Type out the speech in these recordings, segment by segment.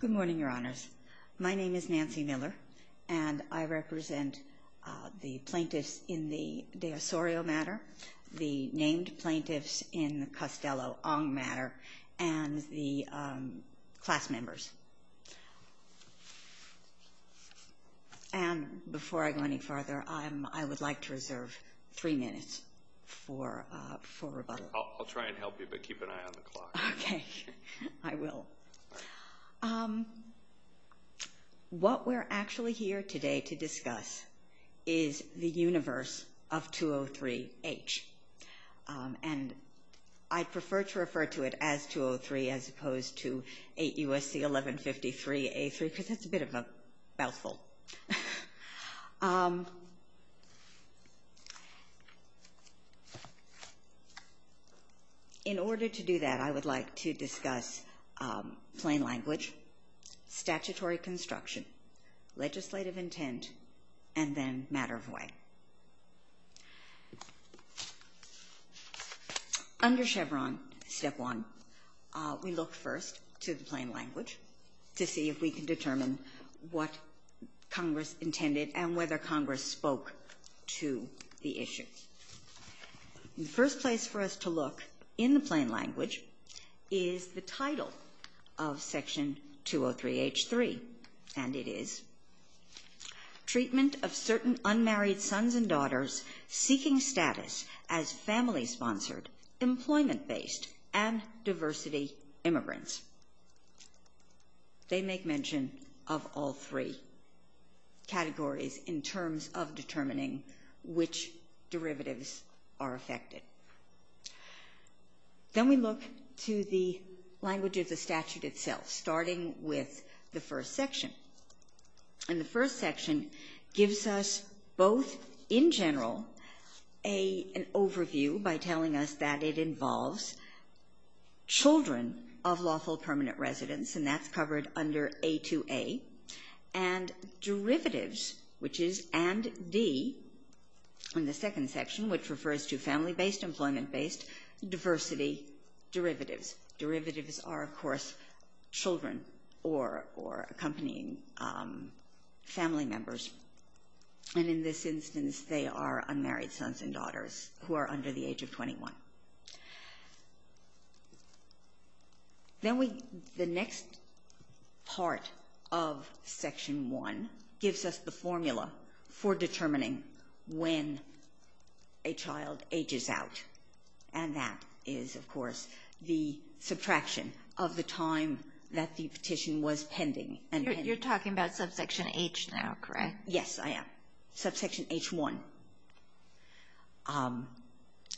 Good morning, Your Honors. My name is Nancy Miller, and I represent the plaintiffs in the de Osorio matter, the named plaintiffs in the Costello-Ong matter, and the class members. And before I go any farther, I would like to reserve three minutes for rebuttal. I'll try and help you, but keep an eye on the clock. Okay. I will. What we're actually here today to discuss is the universe of 203-H. And I prefer to refer to it as 203 as opposed to 8 U.S.C. 1153-A3, because that's a bit of a mouthful. In order to do that, I would like to discuss plain language, statutory construction, legislative intent, and then matter of way. Under Chevron Step 1, we look first to the plain language to see if we can determine what Congress intended and whether Congress spoke to the issue. The first place for us to look in the plain language is the title of Section 203-H-3, and it is Treatment of Certain Unmarried Sons and Daughters Seeking Status as Family-Sponsored, Employment-Based, and Diversity Immigrants. They make mention of all three categories in terms of determining which derivatives are affected. Then we look to the language of the statute itself, starting with the first section. And the first section gives us both, in general, an overview by telling us that it involves children of lawful permanent residents, and that's covered under A-2-A, and derivatives, which is AND-D in the second section, which refers to family-based, employment-based, diversity derivatives. Derivatives are, of course, children or accompanying family members. And in this instance, they are unmarried sons and daughters who are under the age of 21. Then the next part of Section 1 gives us the formula for determining when a child ages out, and that is, of course, the subtraction of the time that the petition was pending. You're talking about Subsection H now, correct? Yes, I am. Subsection H-1.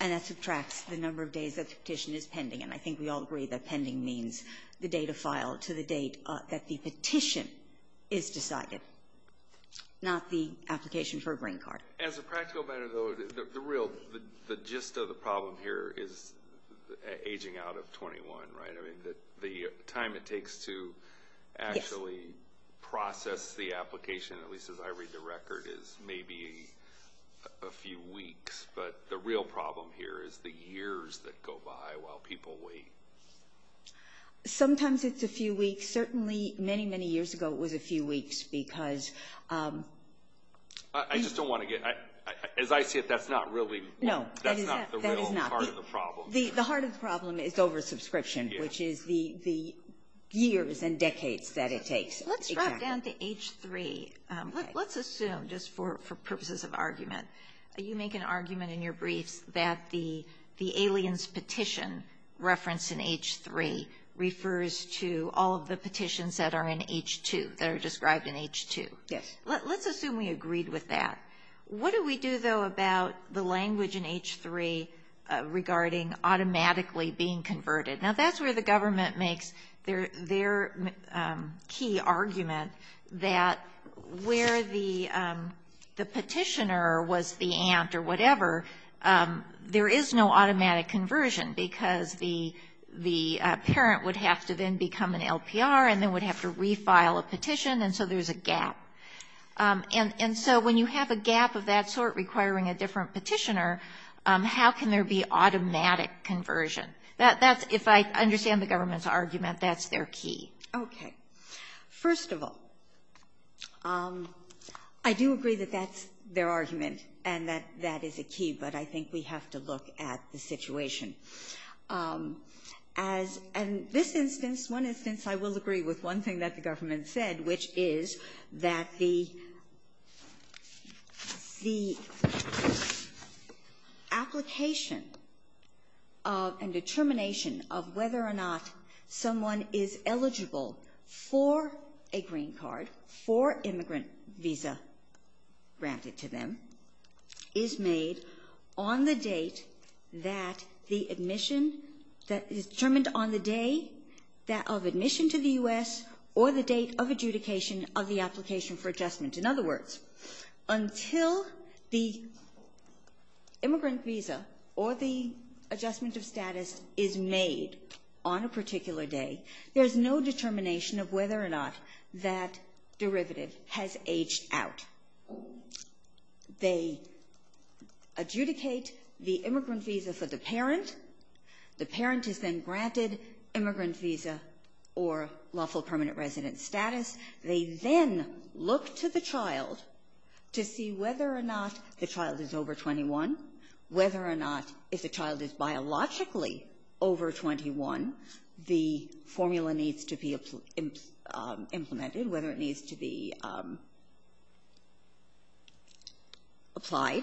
And that subtracts the number of days that the petition is pending, and I think we all agree that pending means the date of file to the date that the petition is decided, not the application for a green card. As a practical matter, though, the real, the gist of the problem here is aging out of 21, right? I mean, the time it takes to actually process the application, at least as I read the record, is maybe a few weeks, but the real problem here is the years that go by while people wait. Sometimes it's a few weeks. Certainly many, many years ago it was a few weeks because... I just don't want to get, as I see it, that's not really, that's not the real part of the problem. Well, the heart of the problem is oversubscription, which is the years and decades that it takes. Let's drop down to H-3. Let's assume, just for purposes of argument, you make an argument in your briefs that the aliens petition referenced in H-3 refers to all of the petitions that are in H-2, that are described in H-2. Yes. Let's assume we agreed with that. What do we do, though, about the language in H-3 regarding automatically being converted? Now, that's where the government makes their key argument that where the petitioner was the aunt or whatever, there is no automatic conversion because the parent would have to then become an LPR and then would have to refile a petition, and so there's a gap. And so when you have a gap of that sort requiring a different petitioner, how can there be automatic conversion? That's, if I understand the government's argument, that's their key. Okay. First of all, I do agree that that's their argument and that that is a key, but I think we have to look at the situation. As in this instance, one instance I will agree with one thing that the government said, which is that the application and determination of whether or not someone is eligible for a green card, for immigrant visa granted to them, is made on the date that the admission that is determined on the day of admission to the U.S. or the date of adjudication of the application for adjustment. In other words, until the immigrant visa or the adjustment of status is made on a particular day, there's no determination of whether or not that derivative has aged out. They adjudicate the immigrant visa for the parent. The parent is then granted immigrant visa or lawful permanent resident status. They then look to the child to see whether or not the child is over 21, whether or not if the child is biologically over 21, the formula needs to be implemented, whether it needs to be applied,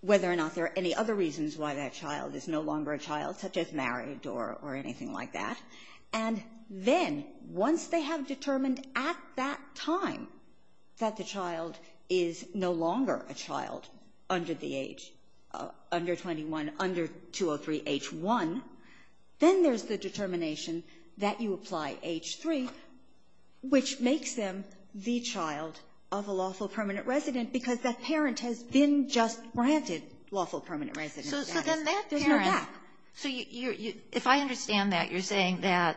whether or not there are any other reasons why that child is no longer a child, such as married or anything like that. And then once they have determined at that time that the child is no longer a child under the age, under 21, under 203H1, then there's the determination that you apply H3, which makes them the child of a lawful permanent resident because that parent has been just granted lawful permanent resident status. There's no gap. So if I understand that, you're saying that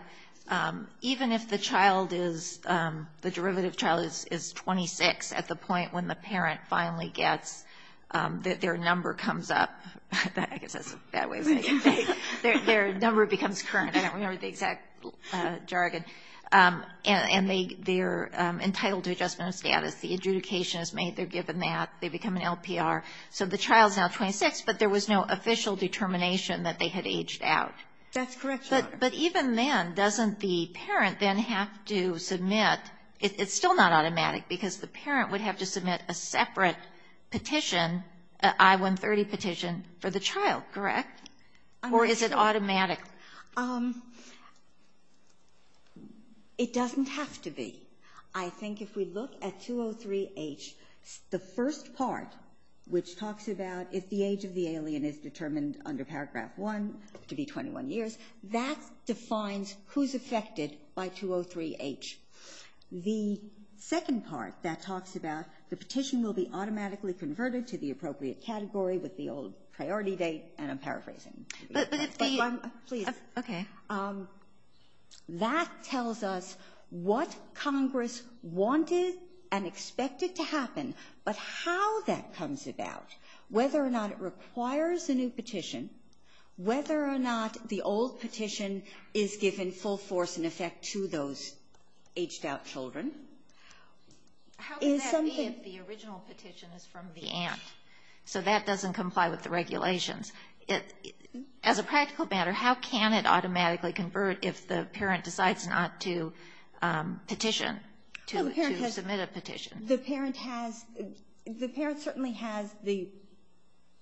even if the child is, the derivative child is 26 at the point when the parent finally gets their number comes up. I guess that's a bad way of saying it. Their number becomes current. I don't remember the exact jargon. And they're entitled to adjustment of status. The adjudication is made. They're given that. They become an LPR. So the child's now 26, but there was no official determination that they had aged out. That's correct, Your Honor. But even then, doesn't the parent then have to submit? It's still not automatic because the parent would have to submit a separate petition, an I-130 petition for the child, correct? Or is it automatic? It doesn't have to be. I think if we look at 203H, the first part, which talks about if the age of the alien is determined under paragraph 1 to be 21 years, that defines who's affected by 203H. The second part that talks about the petition will be automatically converted to the appropriate category with the old priority date, and I'm paraphrasing. Please. Okay. That tells us what Congress wanted and expected to happen, but how that comes about, whether or not it requires a new petition, whether or not the old petition is given full force and effect to those aged-out children, is something. How can that be if the original petition is from the aunt? So that doesn't comply with the regulations. As a practical matter, how can it automatically convert if the parent decides not to petition, to submit a petition? The parent has the parent certainly has the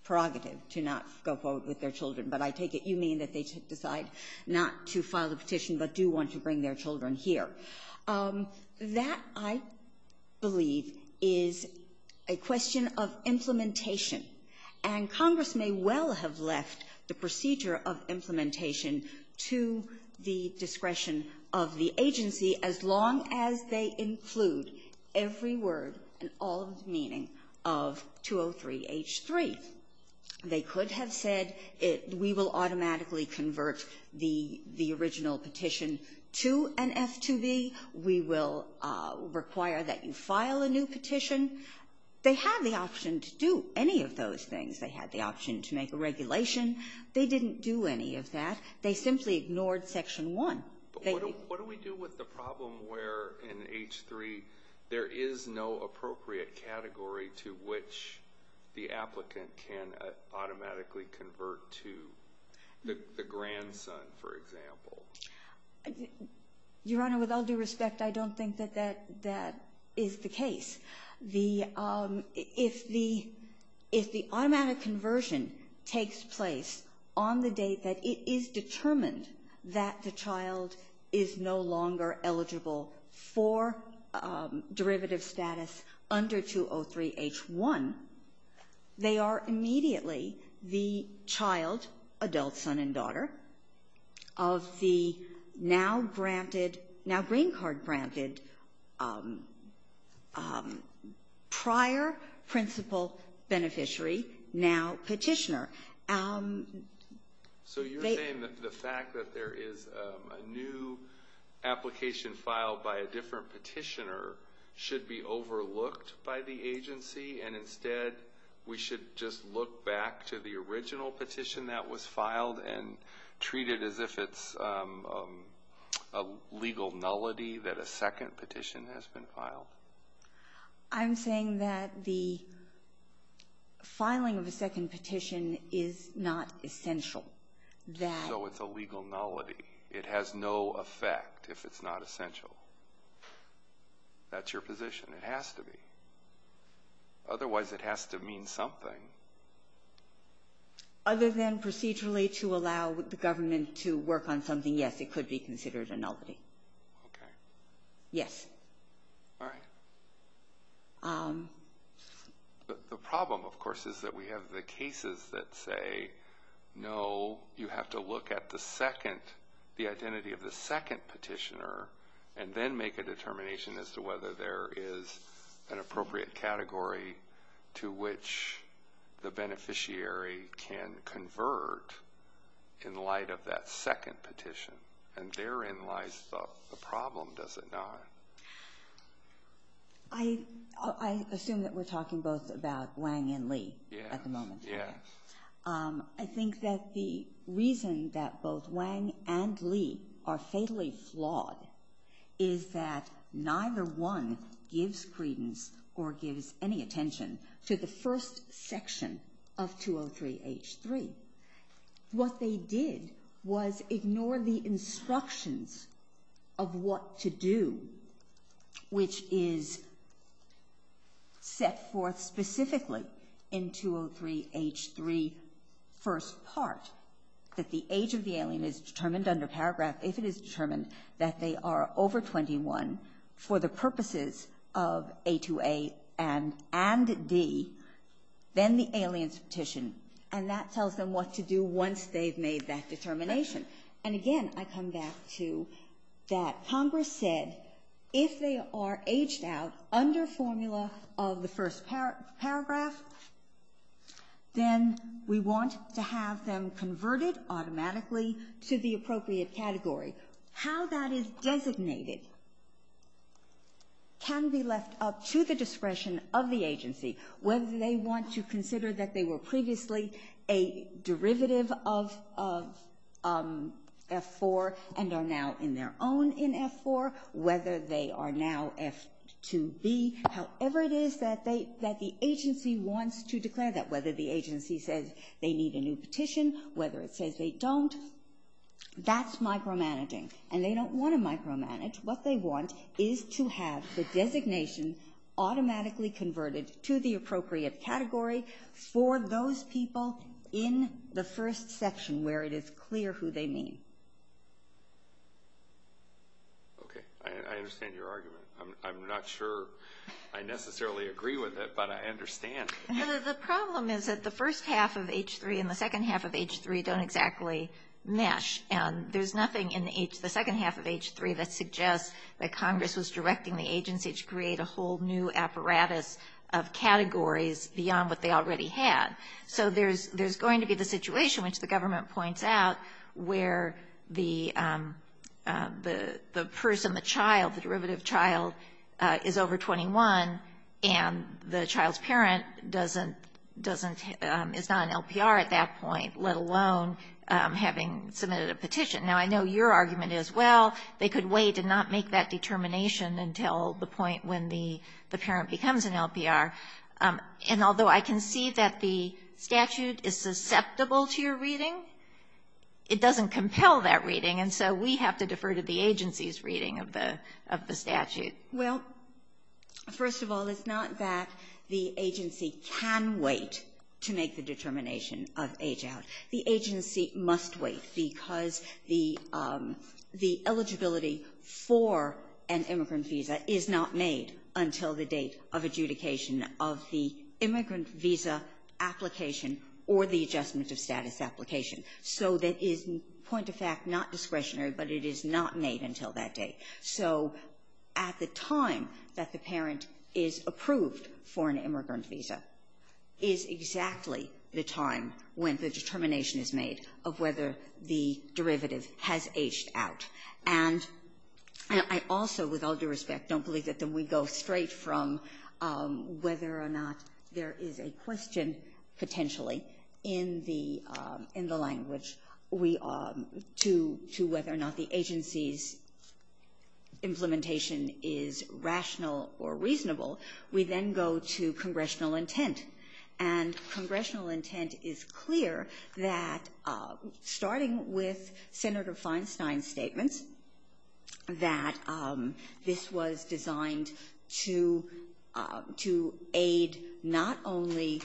prerogative to not go forward with their children, but I take it you mean that they should decide not to file a petition but do want to bring their children here. That, I believe, is a question of implementation, and Congress may well have left the procedure of implementation to the discretion of the agency as long as they include every word and all of the meaning of 203H3. They could have said we will automatically convert the original petition to an F2B. We will require that you file a new petition. They had the option to do any of those things. They had the option to make a regulation. They didn't do any of that. They simply ignored Section 1. But what do we do with the problem where in H3 there is no appropriate category to which the applicant can automatically convert to the grandson, for example? Your Honor, with all due respect, I don't think that that is the case. If the automatic conversion takes place on the date that it is determined that the child is no longer eligible for derivative status under 203H1, they are immediately the child, adult son and daughter, of the now granted, now green card granted prior principal beneficiary, now petitioner. So you're saying that the fact that there is a new application filed by a different petitioner should be overlooked by the agency and instead we should just look back to the original petition that was filed and treat it as if it's a legal nullity that a second petition has been filed? I'm saying that the filing of a second petition is not essential. So it's a legal nullity. It has no effect if it's not essential. That's your position. It has to be. Otherwise it has to mean something. Other than procedurally to allow the government to work on something, yes, it could be considered a nullity. Okay. Yes. All right. The problem, of course, is that we have the cases that say, no, you have to look at the second, the identity of the second petitioner and then make a determination as to whether there is an appropriate category to which the beneficiary can convert in light of that second petition. And therein lies the problem, does it not? I assume that we're talking both about Wang and Lee at the moment. Yes. I think that the reason that both Wang and Lee are fatally flawed is that neither one gives credence or gives any attention to the first section of 203-H3. What they did was ignore the instructions of what to do, which is set forth specifically in 203-H3, first part, that the age of the alien is determined under paragraph if it is determined that they are over 21 for the purposes of A2A and D, then the alien's petition. And that tells them what to do once they've made that determination. And again, I come back to that Congress said if they are aged out under formula of the first paragraph, then we want to have them converted automatically to the appropriate category. How that is designated can be left up to the discretion of the agency, whether they want to consider that they were previously a derivative of F4 and are now in their own in F4, whether they are now F2B. However it is that the agency wants to declare that, whether the agency says they need a new petition, whether it says they don't, that's micromanaging. And they don't want to micromanage. What they want is to have the designation automatically converted to the appropriate category for those people in the first section where it is clear who they mean. Okay. I understand your argument. I'm not sure I necessarily agree with it, but I understand. The problem is that the first half of H3 and the second half of H3 don't exactly mesh. And there's nothing in the second half of H3 that suggests that Congress was directing the agency to create a whole new apparatus of categories beyond what they already had. So there's going to be the situation, which the government points out, where the person, the child, the derivative child, is over 21, and the child's parent doesn't, is not an LPR at that point, let alone having submitted a petition. Now, I know your argument is, well, they could wait and not make that determination until the point when the parent becomes an LPR. And although I can see that the statute is susceptible to your reading, it doesn't compel that reading. And so we have to defer to the agency's reading of the statute. Well, first of all, it's not that the agency can wait to make the determination of age out. The agency must wait because the eligibility for an immigrant visa is not made until the date of adjudication of the immigrant visa application or the adjustment of status application. So that is, point of fact, not discretionary, but it is not made until that date. So at the time that the parent is approved for an immigrant visa is exactly the time when the determination is made of whether the derivative has aged out. And I also, with all due respect, don't believe that we go straight from whether or not there is a question, potentially, in the language we are to whether or not the agency's implementation is rational or reasonable. We then go to congressional intent. And congressional intent is clear that, starting with Senator Feinstein's statements, that this was designed to aid not only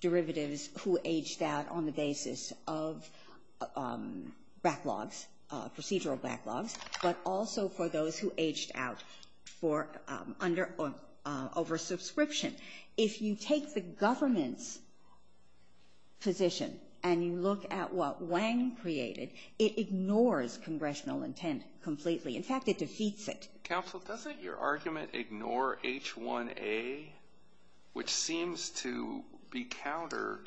derivatives who aged out on the basis of backlogs, procedural backlogs, but also for those who aged out for under or over subscription. If you take the government's position and you look at what Wang created, it ignores congressional intent completely. In fact, it defeats it. Alito, doesn't your argument ignore H1A, which seems to be counter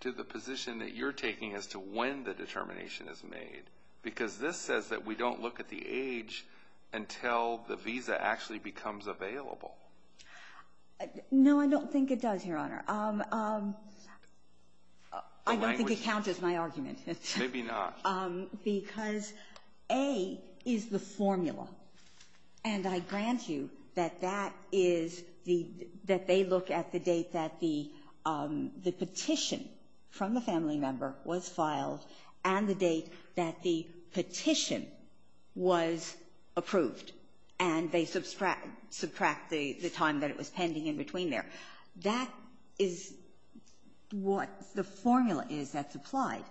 to the position that you're taking as to when the determination is made? Because this says that we don't look at the age until the visa actually becomes available. No, I don't think it does, Your Honor. I don't think it counters my argument. Maybe not. Because A is the formula. And I grant you that that is the — that they look at the date that the petition from the family member was filed and the date that the petition was approved, and they subtract the time that it was pending in between there. That is what the formula is that's applied.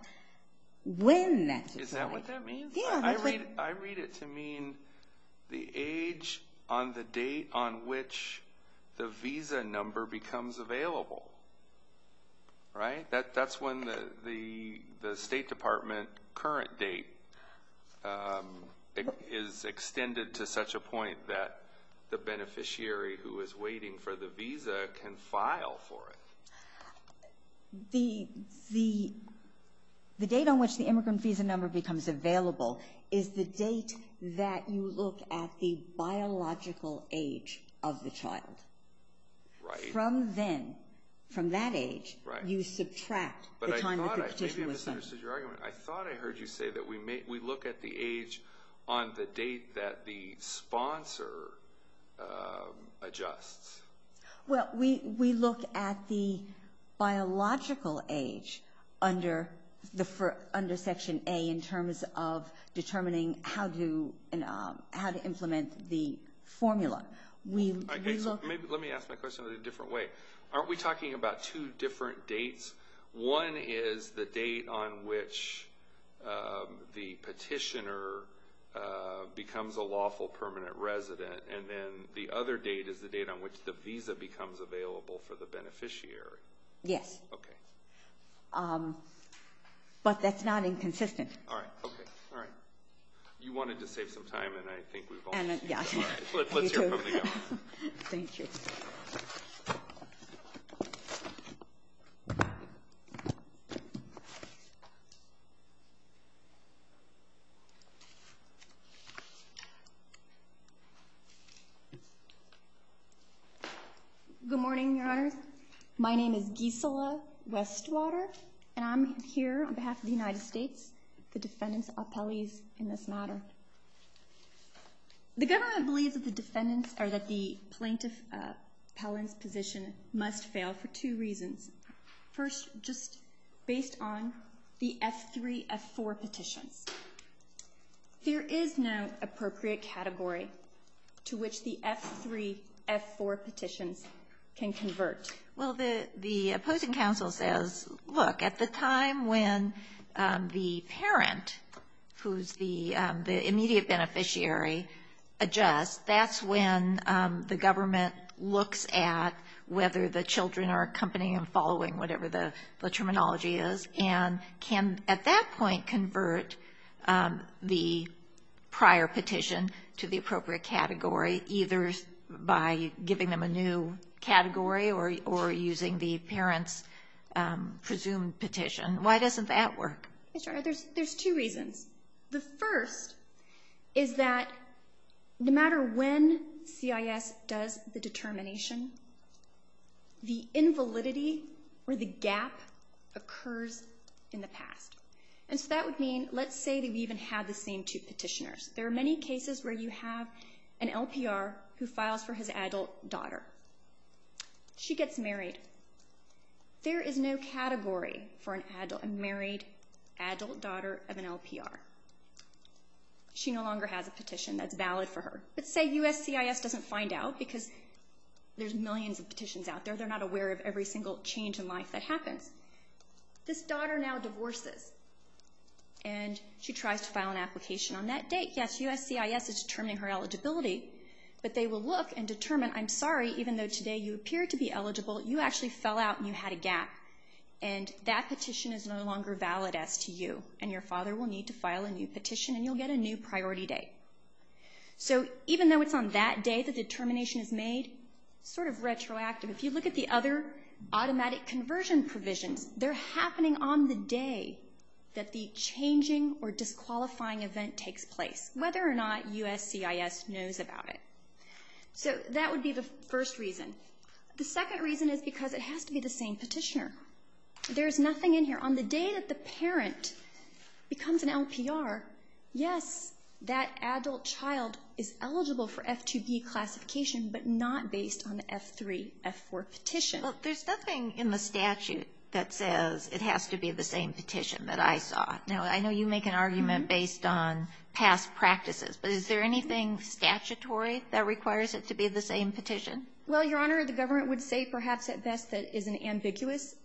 When that's applied — Is that what that means? Yeah. I read it to mean the age on the date on which the visa number becomes available. Right? That's when the State Department current date is extended to such a point that the beneficiary who is waiting for the visa can file for it. The date on which the immigrant visa number becomes available is the date that you look at the biological age of the child. Right. From then, from that age, you subtract the time that the petition was signed. But I thought I — maybe I misunderstood your argument. I thought I heard you say that we look at the age on the date that the sponsor adjusts. Well, we look at the biological age under Section A in terms of determining how to implement the formula. Let me ask my question a little different way. Aren't we talking about two different dates? One is the date on which the petitioner becomes a lawful permanent resident, and then the other date is the date on which the visa becomes available for the beneficiary. Yes. Okay. But that's not inconsistent. All right. Okay. All right. You wanted to save some time, and I think we've all — Yeah. All right. Let's hear from the others. Thank you. Good morning, Your Honors. My name is Gisela Westwater, and I'm here on behalf of the United States, the defendant's appellees in this matter. The government believes that the defendant's — or that the plaintiff appellant's position must fail for two reasons. First, just based on the F3, F4 petitions, there is no appropriate category to which the F3, F4 petitions can convert. Well, the opposing counsel says, look, at the time when the parent, who's the immediate beneficiary, adjusts, that's when the government looks at whether the children are accompanying and following whatever the terminology is, and can, at that point, convert the prior petition to the appropriate category, either by giving them a new category or using the parent's presumed petition. Why doesn't that work? There's two reasons. The first is that no matter when CIS does the determination, the invalidity or the gap occurs in the past. And so that would mean, let's say that we even have the same two petitioners. There are many cases where you have an LPR who files for his adult daughter. She gets married. There is no category for a married adult daughter of an LPR. She no longer has a petition that's valid for her. Let's say USCIS doesn't find out, because there's millions of petitions out there. They're not aware of every single change in life that happens. This daughter now divorces, and she tries to file an application on that date. Yes, USCIS is determining her eligibility, but they will look and determine, I'm sorry, even though today you appear to be eligible, you actually fell out and you had a gap, and that petition is no longer valid as to you, and your father will need to file a new petition, and you'll get a new priority date. So even though it's on that day that the determination is made, it's sort of retroactive. If you look at the other automatic conversion provisions, they're happening on the day that the changing or disqualifying event takes place, whether or not USCIS knows about it. So that would be the first reason. The second reason is because it has to be the same petitioner. There's nothing in here. On the day that the parent becomes an LPR, yes, that adult child is eligible for F2B classification, but not based on the F3, F4 petition. Well, there's nothing in the statute that says it has to be the same petition that I saw. Now, I know you make an argument based on past practices, but is there anything statutory that requires it to be the same petition? Well, Your Honor, the government would say perhaps at best that it is an ambiguous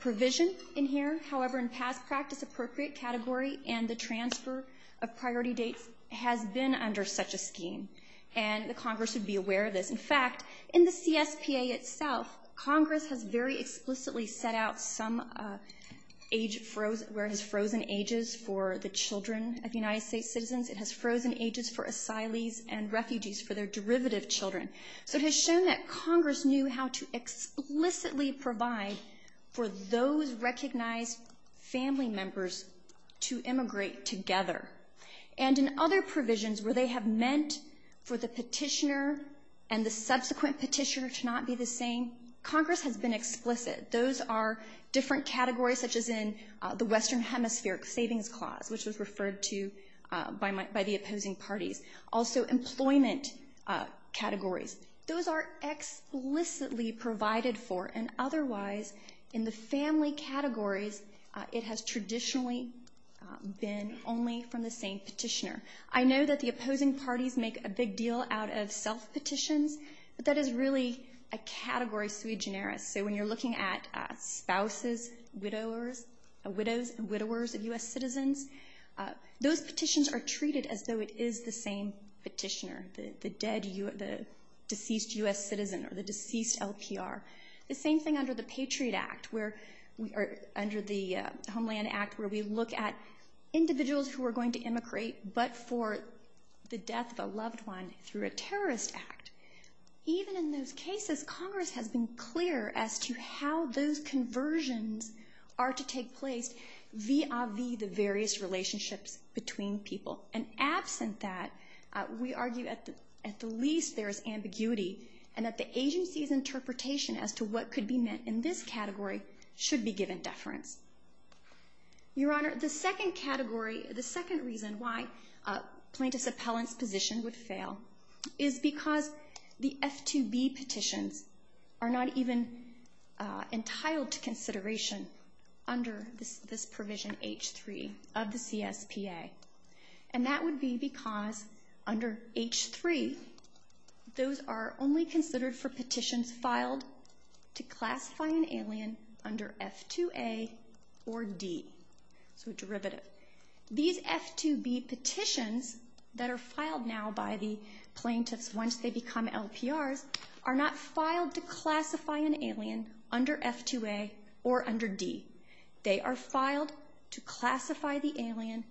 provision in here. However, in past practice, appropriate category and the transfer of priority dates has been under such a scheme, and the Congress would be aware of this. In fact, in the CSPA itself, Congress has very explicitly set out some age, where it has frozen ages for the children of United States citizens. It has frozen ages for asylees and refugees for their derivative children. So it has shown that Congress knew how to explicitly provide for those recognized family members to immigrate together. And in other provisions where they have meant for the petitioner and the subsequent petitioner to not be the same, Congress has been explicit. Those are different categories, such as in the Western Hemispheric Savings Clause, which was referred to by the opposing parties. Also, employment categories. Those are explicitly provided for, and otherwise, in the family categories, it has traditionally been only from the same petitioner. I know that the opposing parties make a big deal out of self-petitions, but that is really a category sui generis. So when you're looking at spouses, widowers of U.S. citizens, those petitions are treated as though it is the same petitioner, the deceased U.S. citizen or the deceased LPR. The same thing under the Patriot Act, under the Homeland Act, where we look at individuals who are going to immigrate, but for the death of a loved one through a terrorist act. Even in those cases, Congress has been clear as to how those conversions are to take place via the various relationships between people. And absent that, we argue at the least there is ambiguity and that the agency's interpretation as to what could be meant in this category should be given deference. Your Honor, the second category, the second reason why plaintiff's appellant's position would fail is because the F-2B petitions are not even entitled to consideration under this provision H-3 of the CSPA. And that would be because under H-3, those are only considered for petitions filed to classify an alien under F-2A or D. So a derivative. These F-2B petitions that are filed now by the plaintiffs once they become LPRs are not filed to classify an alien under F-2A or under D. They are filed to classify the alien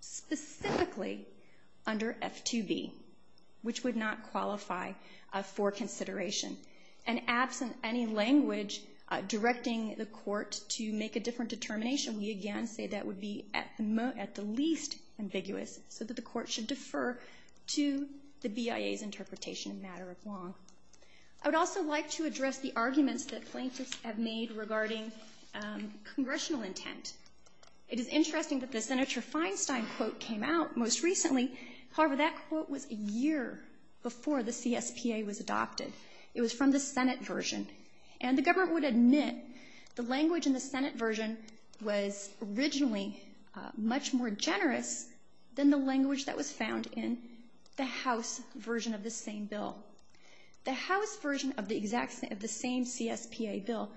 specifically under F-2B, which would not qualify for consideration. And absent any language directing the court to make a different determination, we again say that would be at the least ambiguous so that the court should defer to the BIA's interpretation in a matter of long. I would also like to address the arguments that plaintiffs have made regarding congressional intent. It is interesting that the Senator Feinstein quote came out most recently. However, that quote was a year before the CSPA was adopted. It was from the Senate version. And the government would admit the language in the Senate version was originally much more generous than the language that was found in the House version of the same bill. The House version of the same CSPA bill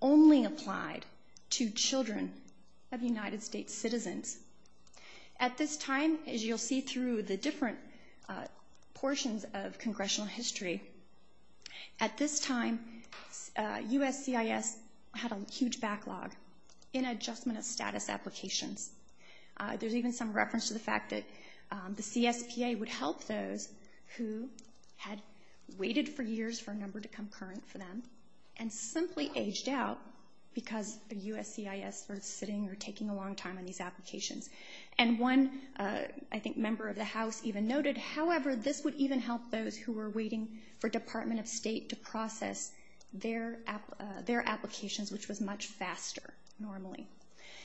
only applied to children of United States citizens. At this time, as you'll see through the different portions of congressional history, at this time USCIS had a huge backlog in adjustment of status applications. There's even some reference to the fact that the CSPA would help those who had waited for years for a number to come current for them and simply aged out because the USCIS were sitting or taking a long time on these applications. And one, I think, member of the House even noted, however, this would even help those who were waiting for Department of State to process their applications, which was much faster normally.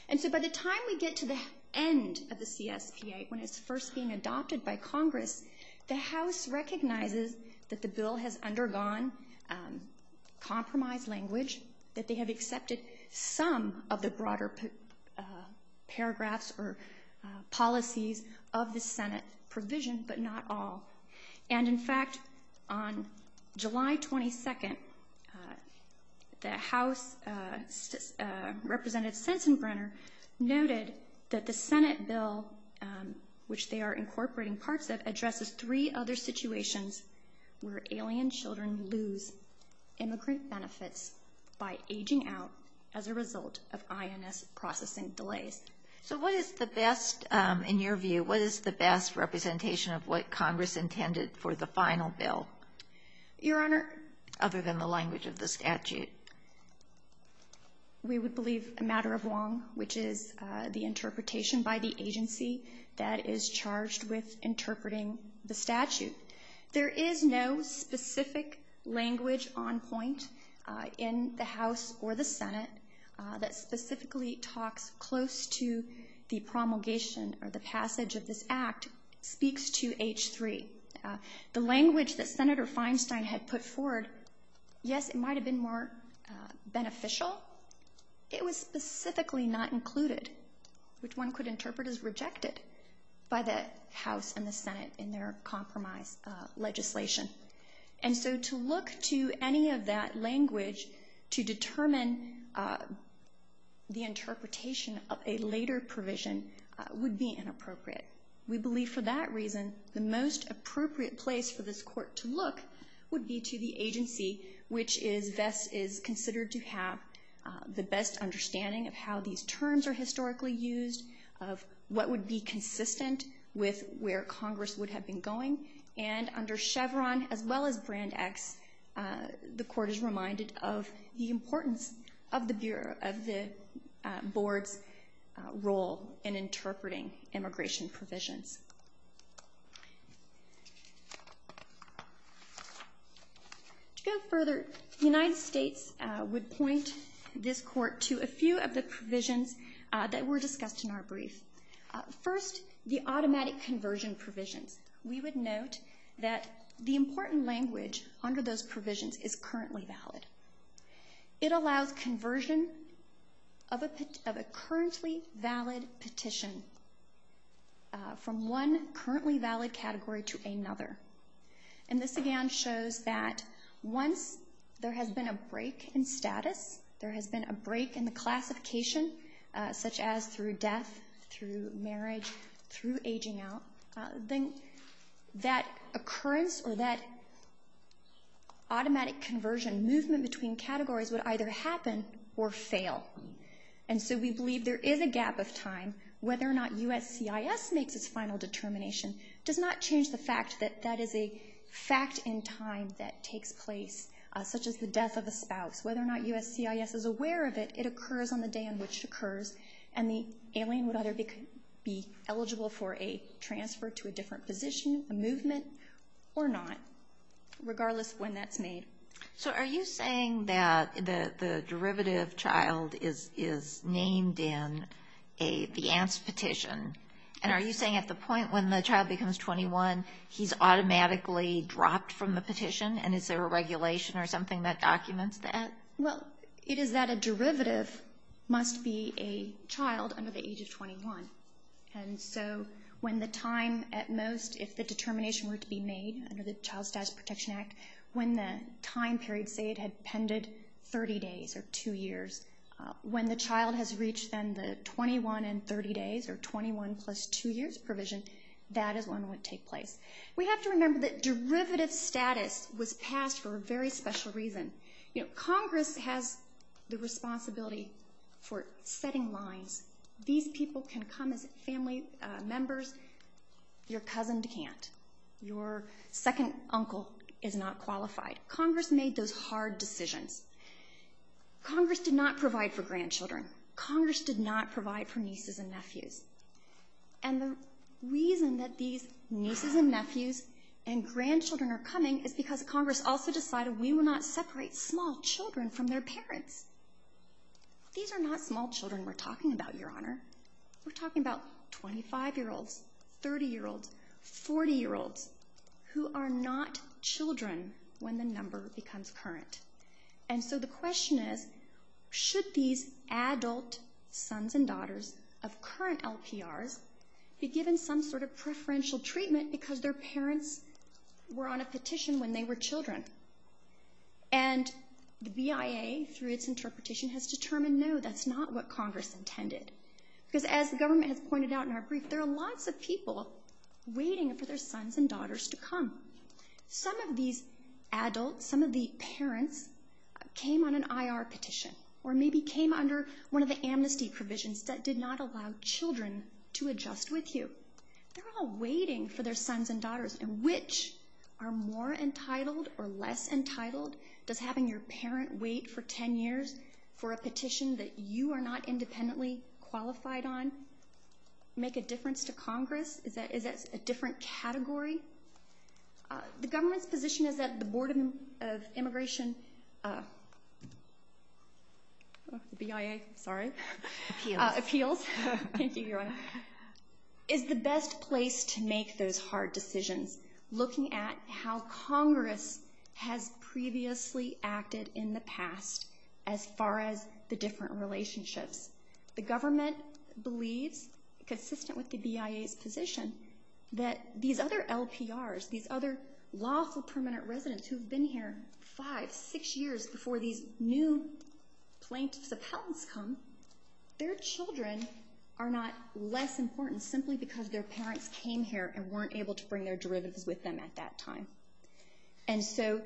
And so by the time we get to the end of the CSPA, when it's first being adopted by Congress, the House recognizes that the bill has undergone compromise language, that they have accepted some of the broader paragraphs or policies of the Senate provision, but not all. And in fact, on July 22nd, the House representative, Sensenbrenner, noted that the Senate bill, which they are incorporating parts of, addresses three other situations where alien children lose immigrant benefits by aging out as a result of INS processing delays. So what is the best, in your view, what is the best representation of what Congress intended for the final bill? Your Honor? Other than the language of the statute. We would believe a matter of wrong, which is the interpretation by the agency that is charged with interpreting the statute. that specifically talks close to the promulgation or the passage of this act speaks to H3. The language that Senator Feinstein had put forward, yes, it might have been more beneficial. It was specifically not included, which one could interpret as rejected by the House and the Senate in their compromise legislation. And so to look to any of that language to determine the interpretation of a later provision would be inappropriate. We believe for that reason the most appropriate place for this court to look would be to the agency, which is considered to have the best understanding of how these terms are historically used, of what would be consistent with where Congress would have been going. And under Chevron, as well as Brand X, the court is reminded of the importance of the Bureau, of the Board's role in interpreting immigration provisions. To go further, the United States would point this court to a few of the provisions that were discussed in our brief. First, the automatic conversion provisions. We would note that the important language under those provisions is currently valid. It allows conversion of a currently valid petition from one currently valid category to another. And this again shows that once there has been a break in status, there has been a break in the classification, such as through death, through marriage, through aging out, then that occurrence or that automatic conversion movement between categories would either happen or fail. And so we believe there is a gap of time. Whether or not USCIS makes its final determination does not change the fact that that is a fact in time that takes place, such as the death of a spouse. Whether or not USCIS is aware of it, it occurs on the day in which it occurs, and the alien would either be eligible for a transfer to a different position, a movement, or not, regardless of when that's made. So are you saying that the derivative child is named in the ANTS petition? And are you saying at the point when the child becomes 21, he's automatically dropped from the petition, and is there a regulation or something that documents that? Well, it is that a derivative must be a child under the age of 21. And so when the time at most, if the determination were to be made under the Child Status Protection Act, when the time period, say it had pended 30 days or 2 years, when the child has reached then the 21 and 30 days or 21 plus 2 years provision, that is when it would take place. We have to remember that derivative status was passed for a very special reason. You know, Congress has the responsibility for setting lines. These people can come as family members. Your cousin can't. Your second uncle is not qualified. Congress made those hard decisions. Congress did not provide for grandchildren. Congress did not provide for nieces and nephews. And the reason that these nieces and nephews and grandchildren are coming is because Congress also decided we will not separate small children from their parents. These are not small children we're talking about, Your Honor. We're talking about 25-year-olds, 30-year-olds, 40-year-olds, who are not children when the number becomes current. And so the question is, should these adult sons and daughters of current LPRs be given some sort of preferential treatment because their parents were on a petition when they were children? And the BIA, through its interpretation, has determined no, that's not what Congress intended. Because as the government has pointed out in our brief, there are lots of people waiting for their sons and daughters to come. Some of these adults, some of the parents, came on an IR petition or maybe came under one of the amnesty provisions that did not allow children to adjust with you. They're all waiting for their sons and daughters. And which are more entitled or less entitled? Does having your parent wait for 10 years for a petition that you are not independently qualified on make a difference to Congress? Is that a different category? The government's position is that the Board of Immigration, BIA, sorry. Appeals. Appeals. Thank you, Your Honor. Is the best place to make those hard decisions, looking at how Congress has previously acted in the past as far as the different relationships. The government believes, consistent with the BIA's position, that these other LPRs, these other lawful permanent residents who have been here five, six years before these new plaintiffs' appellants come, their children are not less important simply because their parents came here and weren't able to bring their derivatives with them at that time. And so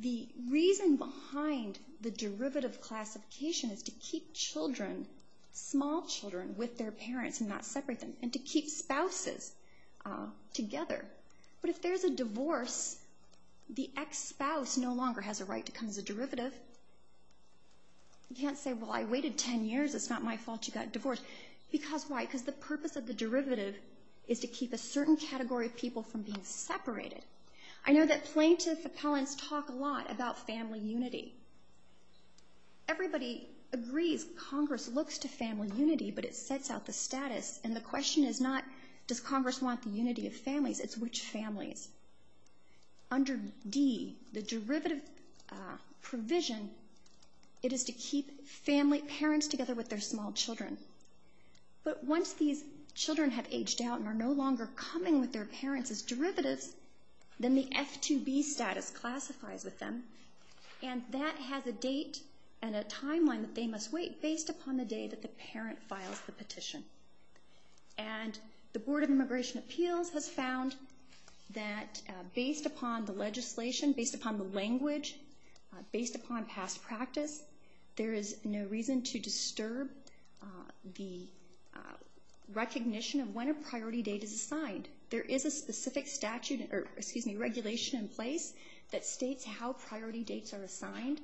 the reason behind the derivative classification is to keep children, small children, with their parents and not separate them. And to keep spouses together. But if there's a divorce, the ex-spouse no longer has a right to come as a derivative. You can't say, well, I waited 10 years, it's not my fault you got divorced. Because why? Because the purpose of the derivative is to keep a certain category of people from being separated. I know that plaintiff appellants talk a lot about family unity. Everybody agrees Congress looks to family unity, but it sets out the status. And the question is not, does Congress want the unity of families, it's which families. Under D, the derivative provision, it is to keep parents together with their small children. But once these children have aged out and are no longer coming with their parents as derivatives, then the F2B status classifies with them. And that has a date and a timeline that they must wait based upon the day that the parent files the petition. And the Board of Immigration Appeals has found that based upon the legislation, based upon the language, based upon past practice, there is no reason to disturb the recognition of when a priority date is assigned. There is a specific regulation in place that states how priority dates are assigned,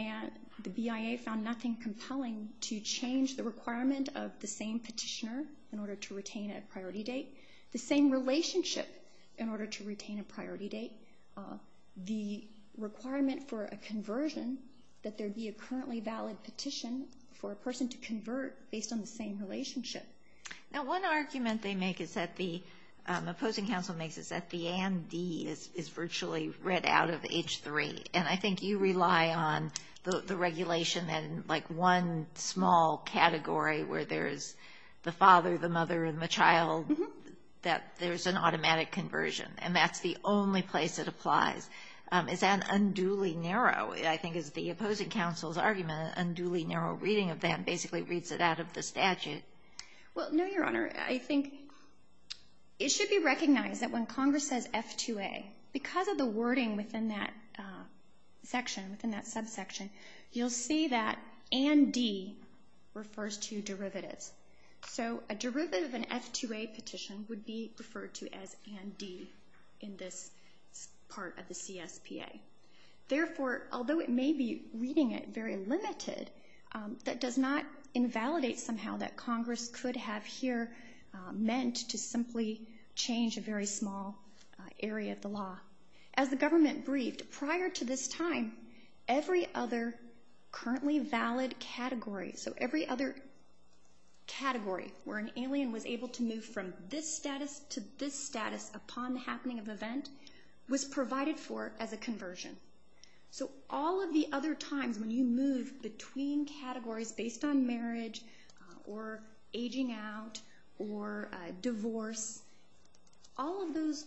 and the BIA found nothing compelling to change the requirement of the same petitioner in order to retain a priority date, the same relationship in order to retain a priority date, the requirement for a conversion that there be a currently valid petition for a person to convert based on the same relationship. Now, one argument they make is that the opposing counsel makes is that the AND is virtually read out of H3. And I think you rely on the regulation and, like, one small category where there's the father, the mother, and the child, that there's an automatic conversion. And that's the only place it applies. Is that unduly narrow, I think, is the opposing counsel's argument, an unduly narrow reading of that basically reads it out of the statute? Well, no, Your Honor. I think it should be recognized that when Congress says F2A, because of the wording within that section, within that subsection, you'll see that AND D refers to derivatives. So a derivative of an F2A petition would be referred to as AND D in this part of the CSPA. Therefore, although it may be reading it very limited, that does not invalidate somehow that Congress could have here meant to simply change a very small area of the law. As the government briefed, prior to this time, every other currently valid category, so every other category where an alien was able to move from this status to this status upon the happening of event, was provided for as a conversion. So all of the other times when you move between categories based on marriage or aging out or divorce, all of those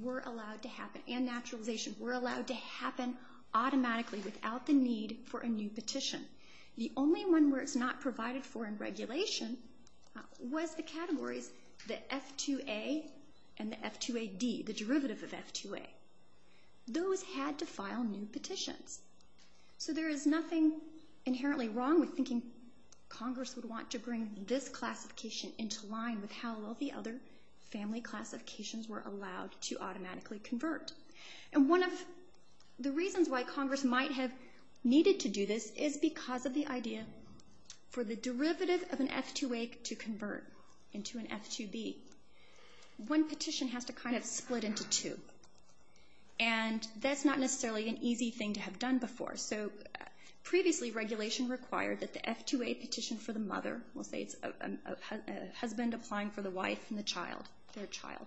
were allowed to happen, and naturalization, were allowed to happen automatically without the need for a new petition. The only one where it's not provided for in regulation was the categories, the F2A and the F2AD, the derivative of F2A. Those had to file new petitions. So there is nothing inherently wrong with thinking Congress would want to bring this classification into line with how all the other family classifications were allowed to automatically convert. And one of the reasons why Congress might have needed to do this is because of the idea for the derivative of an F2A to convert into an F2B. One petition has to kind of split into two, and that's not necessarily an easy thing to have done before. So previously, regulation required that the F2A petition for the mother, we'll say it's a husband applying for the wife and the child, their child.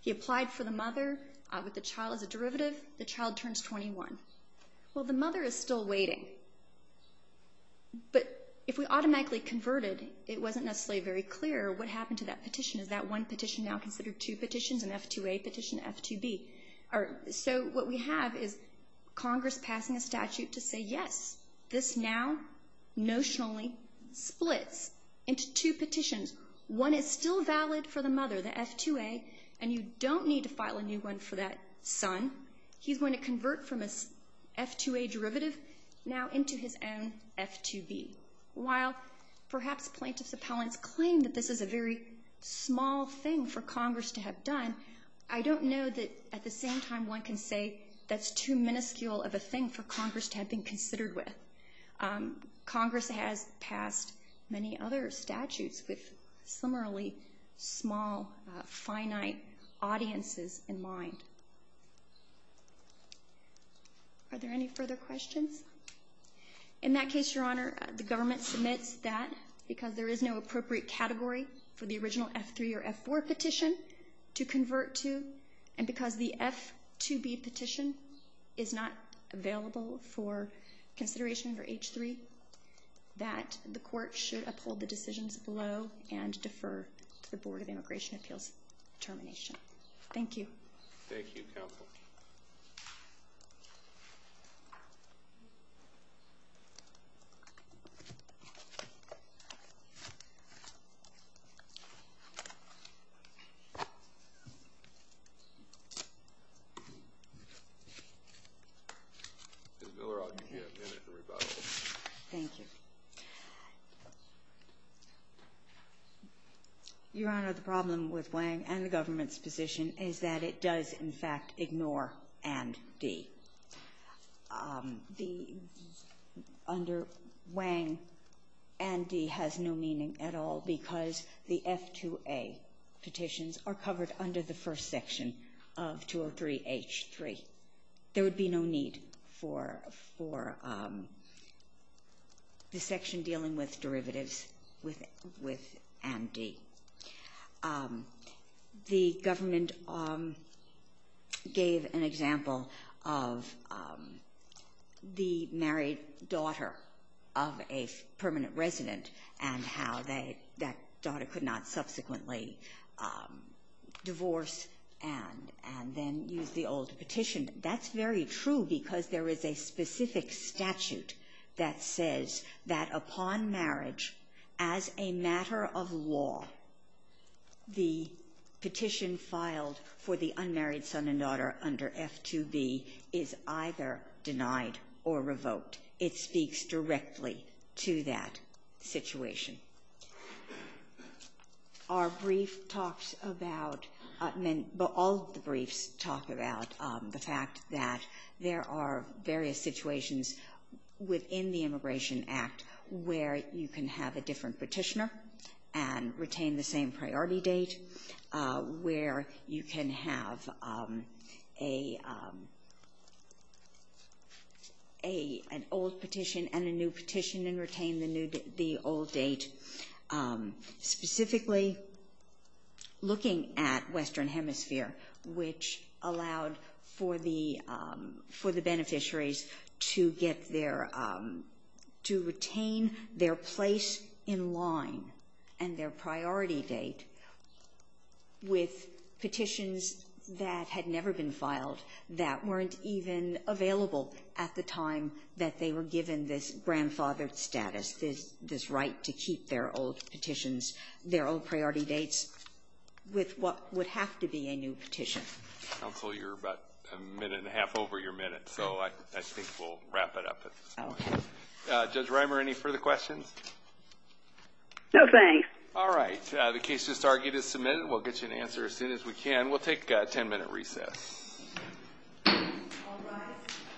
He applied for the mother with the child as a derivative. The child turns 21. Well, the mother is still waiting. But if we automatically converted, it wasn't necessarily very clear what happened to that petition. Is that one petition now considered two petitions, an F2A petition, F2B? So what we have is Congress passing a statute to say, yes, this now notionally splits into two petitions. One is still valid for the mother, the F2A, and you don't need to file a new one for that son. He's going to convert from an F2A derivative now into his own F2B. While perhaps plaintiff's appellants claim that this is a very small thing for Congress to have done, I don't know that at the same time one can say that's too minuscule of a thing for Congress to have been considered with. Congress has passed many other statutes with similarly small, finite audiences in mind. Are there any further questions? In that case, Your Honor, the government submits that because there is no appropriate category for the original F3 or F4 petition to convert to, and because the F2B petition is not available for consideration for H3, that the court should uphold the decisions below and defer to the Board of Immigration Appeals termination. Thank you. Thank you, Counsel. Ms. Miller, I'll give you a minute to rebuttal. Thank you. Your Honor, the problem with Wang and the government's position is that it does, in fact, ignore and D. Under Wang, and D has no meaning at all because the F2A petitions are covered under the first section. There would be no need for the section dealing with derivatives with and D. The government gave an example of the married daughter of a permanent resident and how that daughter could not subsequently divorce and then use the old petition. That's very true because there is a specific statute that says that upon marriage, as a matter of law, the petition filed for the unmarried son and daughter under F2B is either denied or revoked. It speaks directly to that situation. Our brief talks about — all of the briefs talk about the fact that there are various situations within the Immigration Act where you can have a different petitioner and retain the same priority date, where you can have an old petition and a new petition and retain the old date. Specifically, looking at Western Hemisphere, which allowed for the beneficiaries to get their — with petitions that had never been filed, that weren't even available at the time that they were given this grandfathered status, this right to keep their old petitions, their old priority dates, with what would have to be a new petition. Counsel, you're about a minute and a half over your minute, so I think we'll wrap it up. Okay. Judge Reimer, any further questions? No, thanks. All right, the case just argued is submitted. We'll get you an answer as soon as we can. We'll take a 10-minute recess.